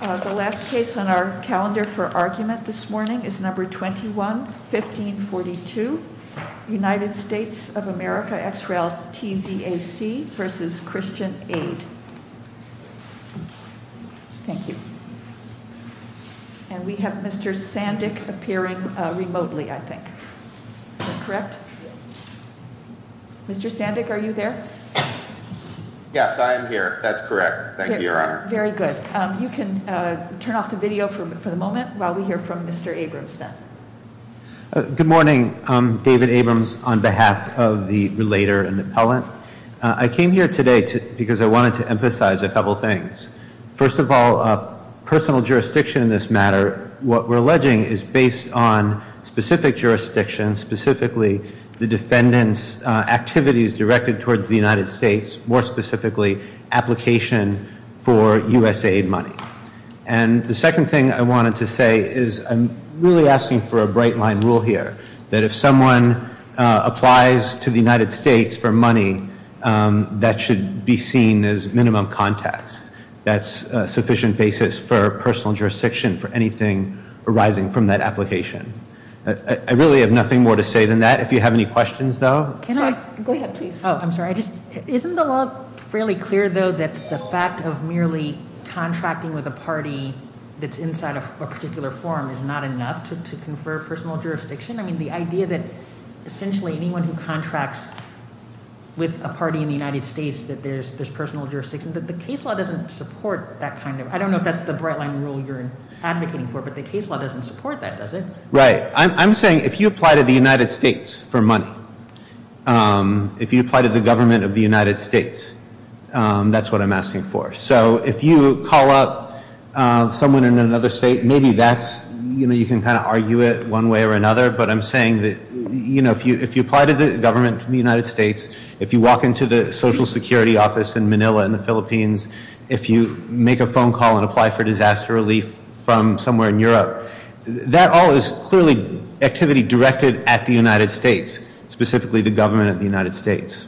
The last case on our calendar for argument this morning is number 21 1542 United States of America x rel TZ AC versus Christian Aid Thank you, and we have mr. Sandick appearing remotely I think Mr. Sandick are you there? Yes, I'm here that's correct, thank you very good you can turn off the video for the moment while we hear from mr. Abrams Good morning, David Abrams on behalf of the relator and the appellant I came here today because I wanted to emphasize a couple things first of all Personal jurisdiction in this matter what we're alleging is based on specific jurisdiction specifically the defendants Activities directed towards the United States more specifically application for USAID money and The second thing I wanted to say is I'm really asking for a bright line rule here that if someone applies to the United States for money That should be seen as minimum contacts That's a sufficient basis for personal jurisdiction for anything arising from that application I really have nothing more to say than that if you have any questions, though I'm sorry. I just isn't the law fairly clear though that the fact of merely Contracting with a party that's inside of a particular forum is not enough to confer personal jurisdiction. I mean the idea that essentially anyone who contracts With a party in the United States that there's this personal jurisdiction that the case law doesn't support that kind of I don't know if That's the bright line rule you're advocating for but the case law doesn't support that does it? Right. I'm saying if you apply to the United States for money If you apply to the government of the United States That's what I'm asking for. So if you call up Someone in another state, maybe that's you know, you can kind of argue it one way or another But I'm saying that you know If you if you apply to the government from the United States if you walk into the Social Security Office in Manila in the Philippines if you make a phone call and apply for disaster relief from somewhere in Europe That all is clearly activity directed at the United States specifically the government of the United States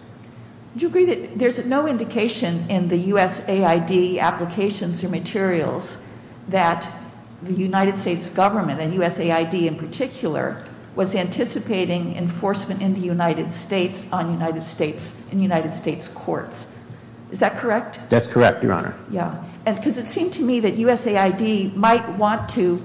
Do you agree that there's no indication in the USAID applications or materials that the United States government and USAID in particular was anticipating enforcement in the United States on United States in United States courts Is that correct? That's correct. Your honor. Yeah, and because it seemed to me that USAID might want to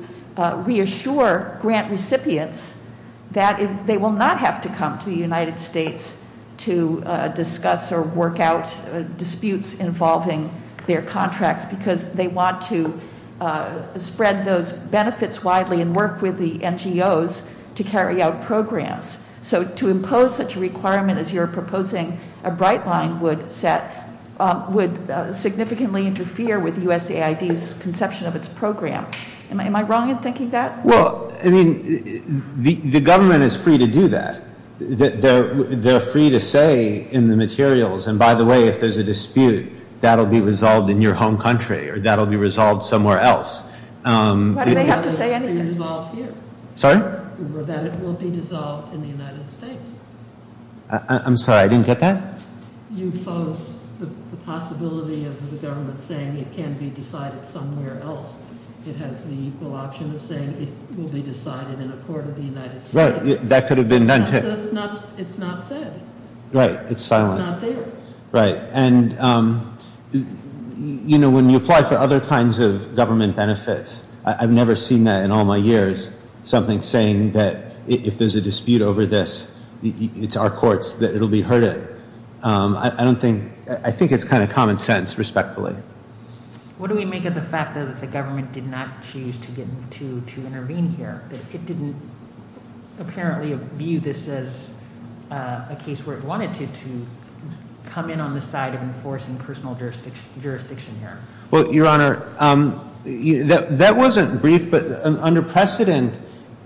Reassure grant recipients that they will not have to come to the United States to discuss or work out disputes involving their contracts because they want to Spread those benefits widely and work with the NGOs to carry out programs So to impose such a requirement as you're proposing a bright line would set Would significantly interfere with USAID's conception of its program. Am I wrong in thinking that? Well, I mean The the government is free to do that They're they're free to say in the materials and by the way If there's a dispute that'll be resolved in your home country or that'll be resolved somewhere else Why do they have to say anything? Sorry? I'm sorry, I didn't get that Right, that could have been done too. It's not it's not said. Right. It's silent. It's not there. Right and You know when you apply for other kinds of government benefits I've never seen that in all my years something saying that if there's a dispute over this It's our courts that it'll be heard it. I don't think I think it's kind of common sense respectfully What do we make of the fact that the government did not choose to get to to intervene here that it didn't? apparently view this as a case where it wanted to to Come in on the side of enforcing personal jurisdiction here. Well, your honor That wasn't brief but under precedent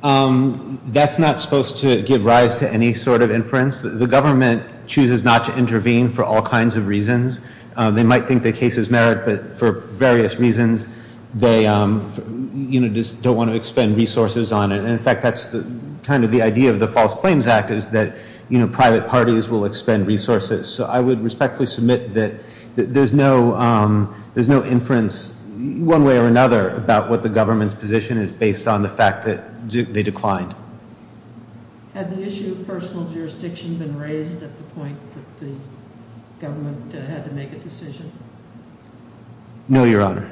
That's not supposed to give rise to any sort of inference. The government chooses not to intervene for all kinds of reasons They might think the case is merit, but for various reasons they You know just don't want to expend resources on it In fact, that's the kind of the idea of the False Claims Act is that you know private parties will expend resources So I would respectfully submit that there's no There's no inference one way or another about what the government's position is based on the fact that they declined No, your honor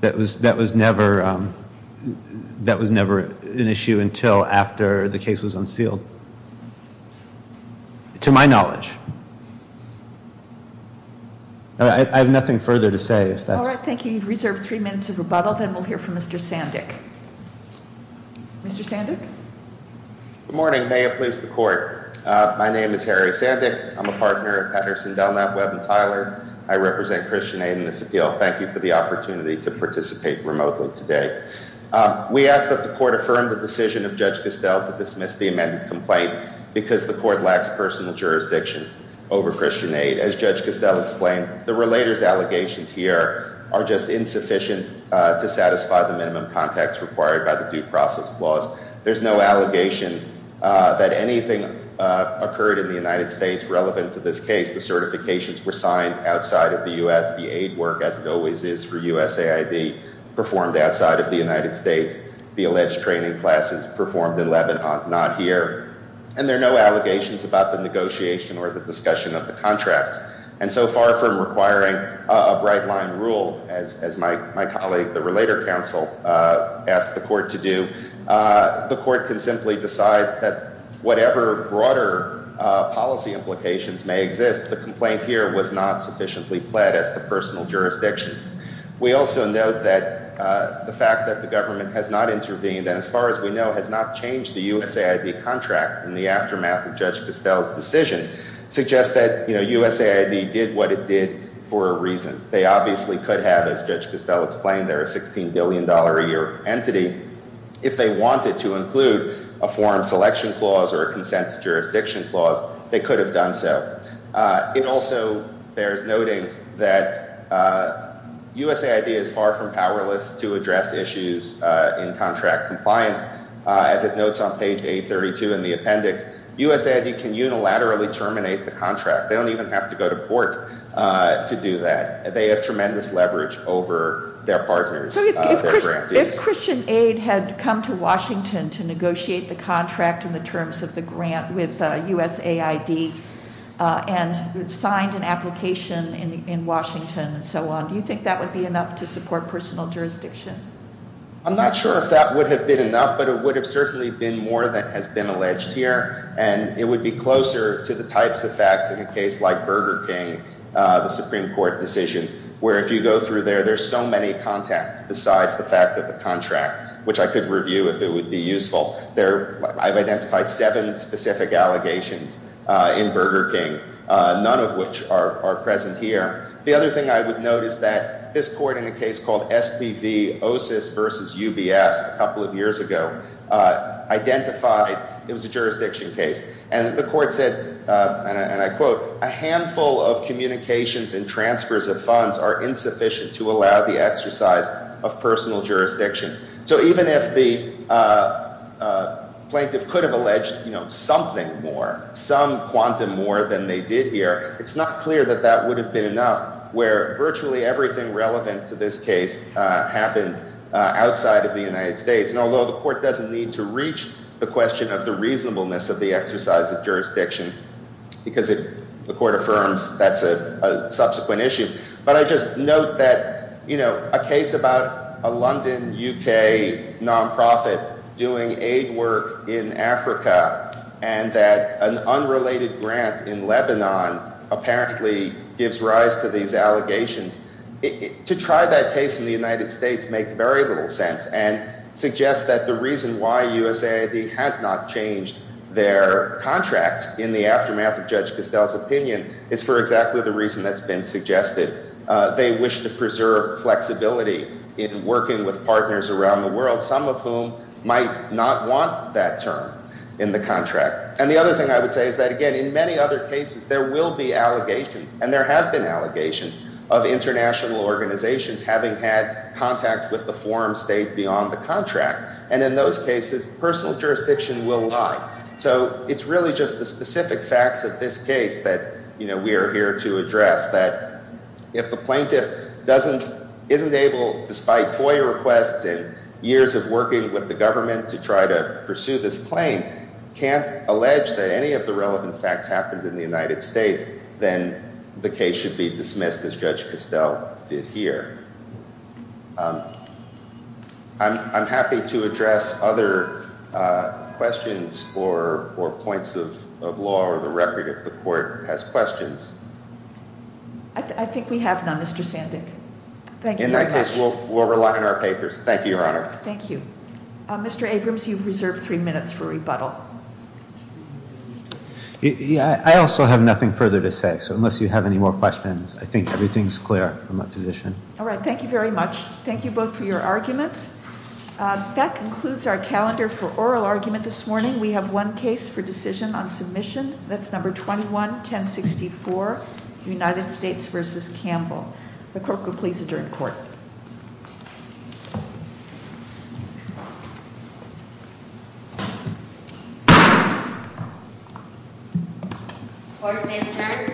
that was that was never That was never an issue until after the case was unsealed To my knowledge I have nothing further to say if that's all right. Thank you. You've reserved three minutes of rebuttal then we'll hear from mr. Sandick Mr. Sandick Good morning, may it please the court? My name is Harry Sandick. I'm a partner at Patterson Delknap Webb and Tyler. I represent Christian Aid in this appeal Thank you for the opportunity to participate remotely today We asked that the court affirmed the decision of judge Castell to dismiss the amended complaint Because the court lacks personal jurisdiction over Christian Aid as judge Castell explained the relators allegations here are just insufficient To satisfy the minimum context required by the due process laws. There's no allegation that anything Occurred in the United States relevant to this case the certifications were signed outside of the US the aid work as it always is for USAID performed outside of the United States the alleged training classes performed in Lebanon not here and there are no allegations about the Negotiation or the discussion of the contracts and so far from requiring a bright line rule as my colleague the Relator Council asked the court to do The court can simply decide that whatever broader Policy implications may exist the complaint here was not sufficiently pled as the personal jurisdiction We also know that The fact that the government has not intervened and as far as we know has not changed the USAID Contract in the aftermath of judge Castell's decision Suggests that you know USAID did what it did for a reason they obviously could have as judge Castell explained They're a 16 billion dollar a year entity if they wanted to include a forum selection clause or a consent to jurisdiction Clause they could have done so it also bears noting that USAID is far from powerless to address issues in contract compliance As it notes on page 832 in the appendix USAID can unilaterally terminate the contract. They don't even have to go to court To do that they have tremendous leverage over their partners If Christian Aid had come to Washington to negotiate the contract in the terms of the grant with USAID And signed an application in Washington and so on do you think that would be enough to support personal jurisdiction? I'm not sure if that would have been enough But it would have certainly been more than has been alleged here And it would be closer to the types of facts in a case like Burger King The Supreme Court decision where if you go through there There's so many contacts besides the fact that the contract which I could review if it would be useful there I've identified seven specific allegations in Burger King None of which are present here the other thing I would note is that this court in a case called SPV OSIS versus UBS a couple of years ago Identified it was a jurisdiction case and the court said and I quote a handful of communications and transfers of funds are insufficient to allow the exercise of personal jurisdiction, so even if the Plaintiff could have alleged you know something more some quantum more than they did here It's not clear that that would have been enough where virtually everything relevant to this case Happened Outside of the United States and although the court doesn't need to reach the question of the reasonableness of the exercise of jurisdiction because it the court affirms that's a Subsequent issue, but I just note that you know a case about a London UK Nonprofit doing aid work in Africa and that an unrelated grant in Lebanon Apparently gives rise to these allegations To try that case in the United States makes very little sense and Suggests that the reason why USAID has not changed their Contracts in the aftermath of judge Castells opinion is for exactly the reason that's been suggested They wish to preserve Flexibility in working with partners around the world some of whom might not want that term in the contract And the other thing I would say is that again in many other cases there will be allegations of international organizations having had Contacts with the forum state beyond the contract and in those cases personal jurisdiction will lie So it's really just the specific facts of this case that you know we are here to address that If the plaintiff doesn't isn't able despite FOIA requests and years of working with the government to try to pursue this claim Can't allege that any of the relevant facts happened in the United States Then the case should be dismissed as judge Castell did here I'm happy to address other Questions or or points of law or the record if the court has questions I Think we have none. Mr. Sandick. Thank you. In that case. We'll rely on our papers. Thank you, Your Honor. Thank you Mr. Abrams, you've reserved three minutes for rebuttal Yeah, I also have nothing further to say so unless you have any more questions, I think everything's clear I'm a physician All right. Thank you very much. Thank you both for your arguments That concludes our calendar for oral argument this morning. We have one case for decision on submission. That's number 21 1064 United States versus Campbell the clerk will please adjourn court Oh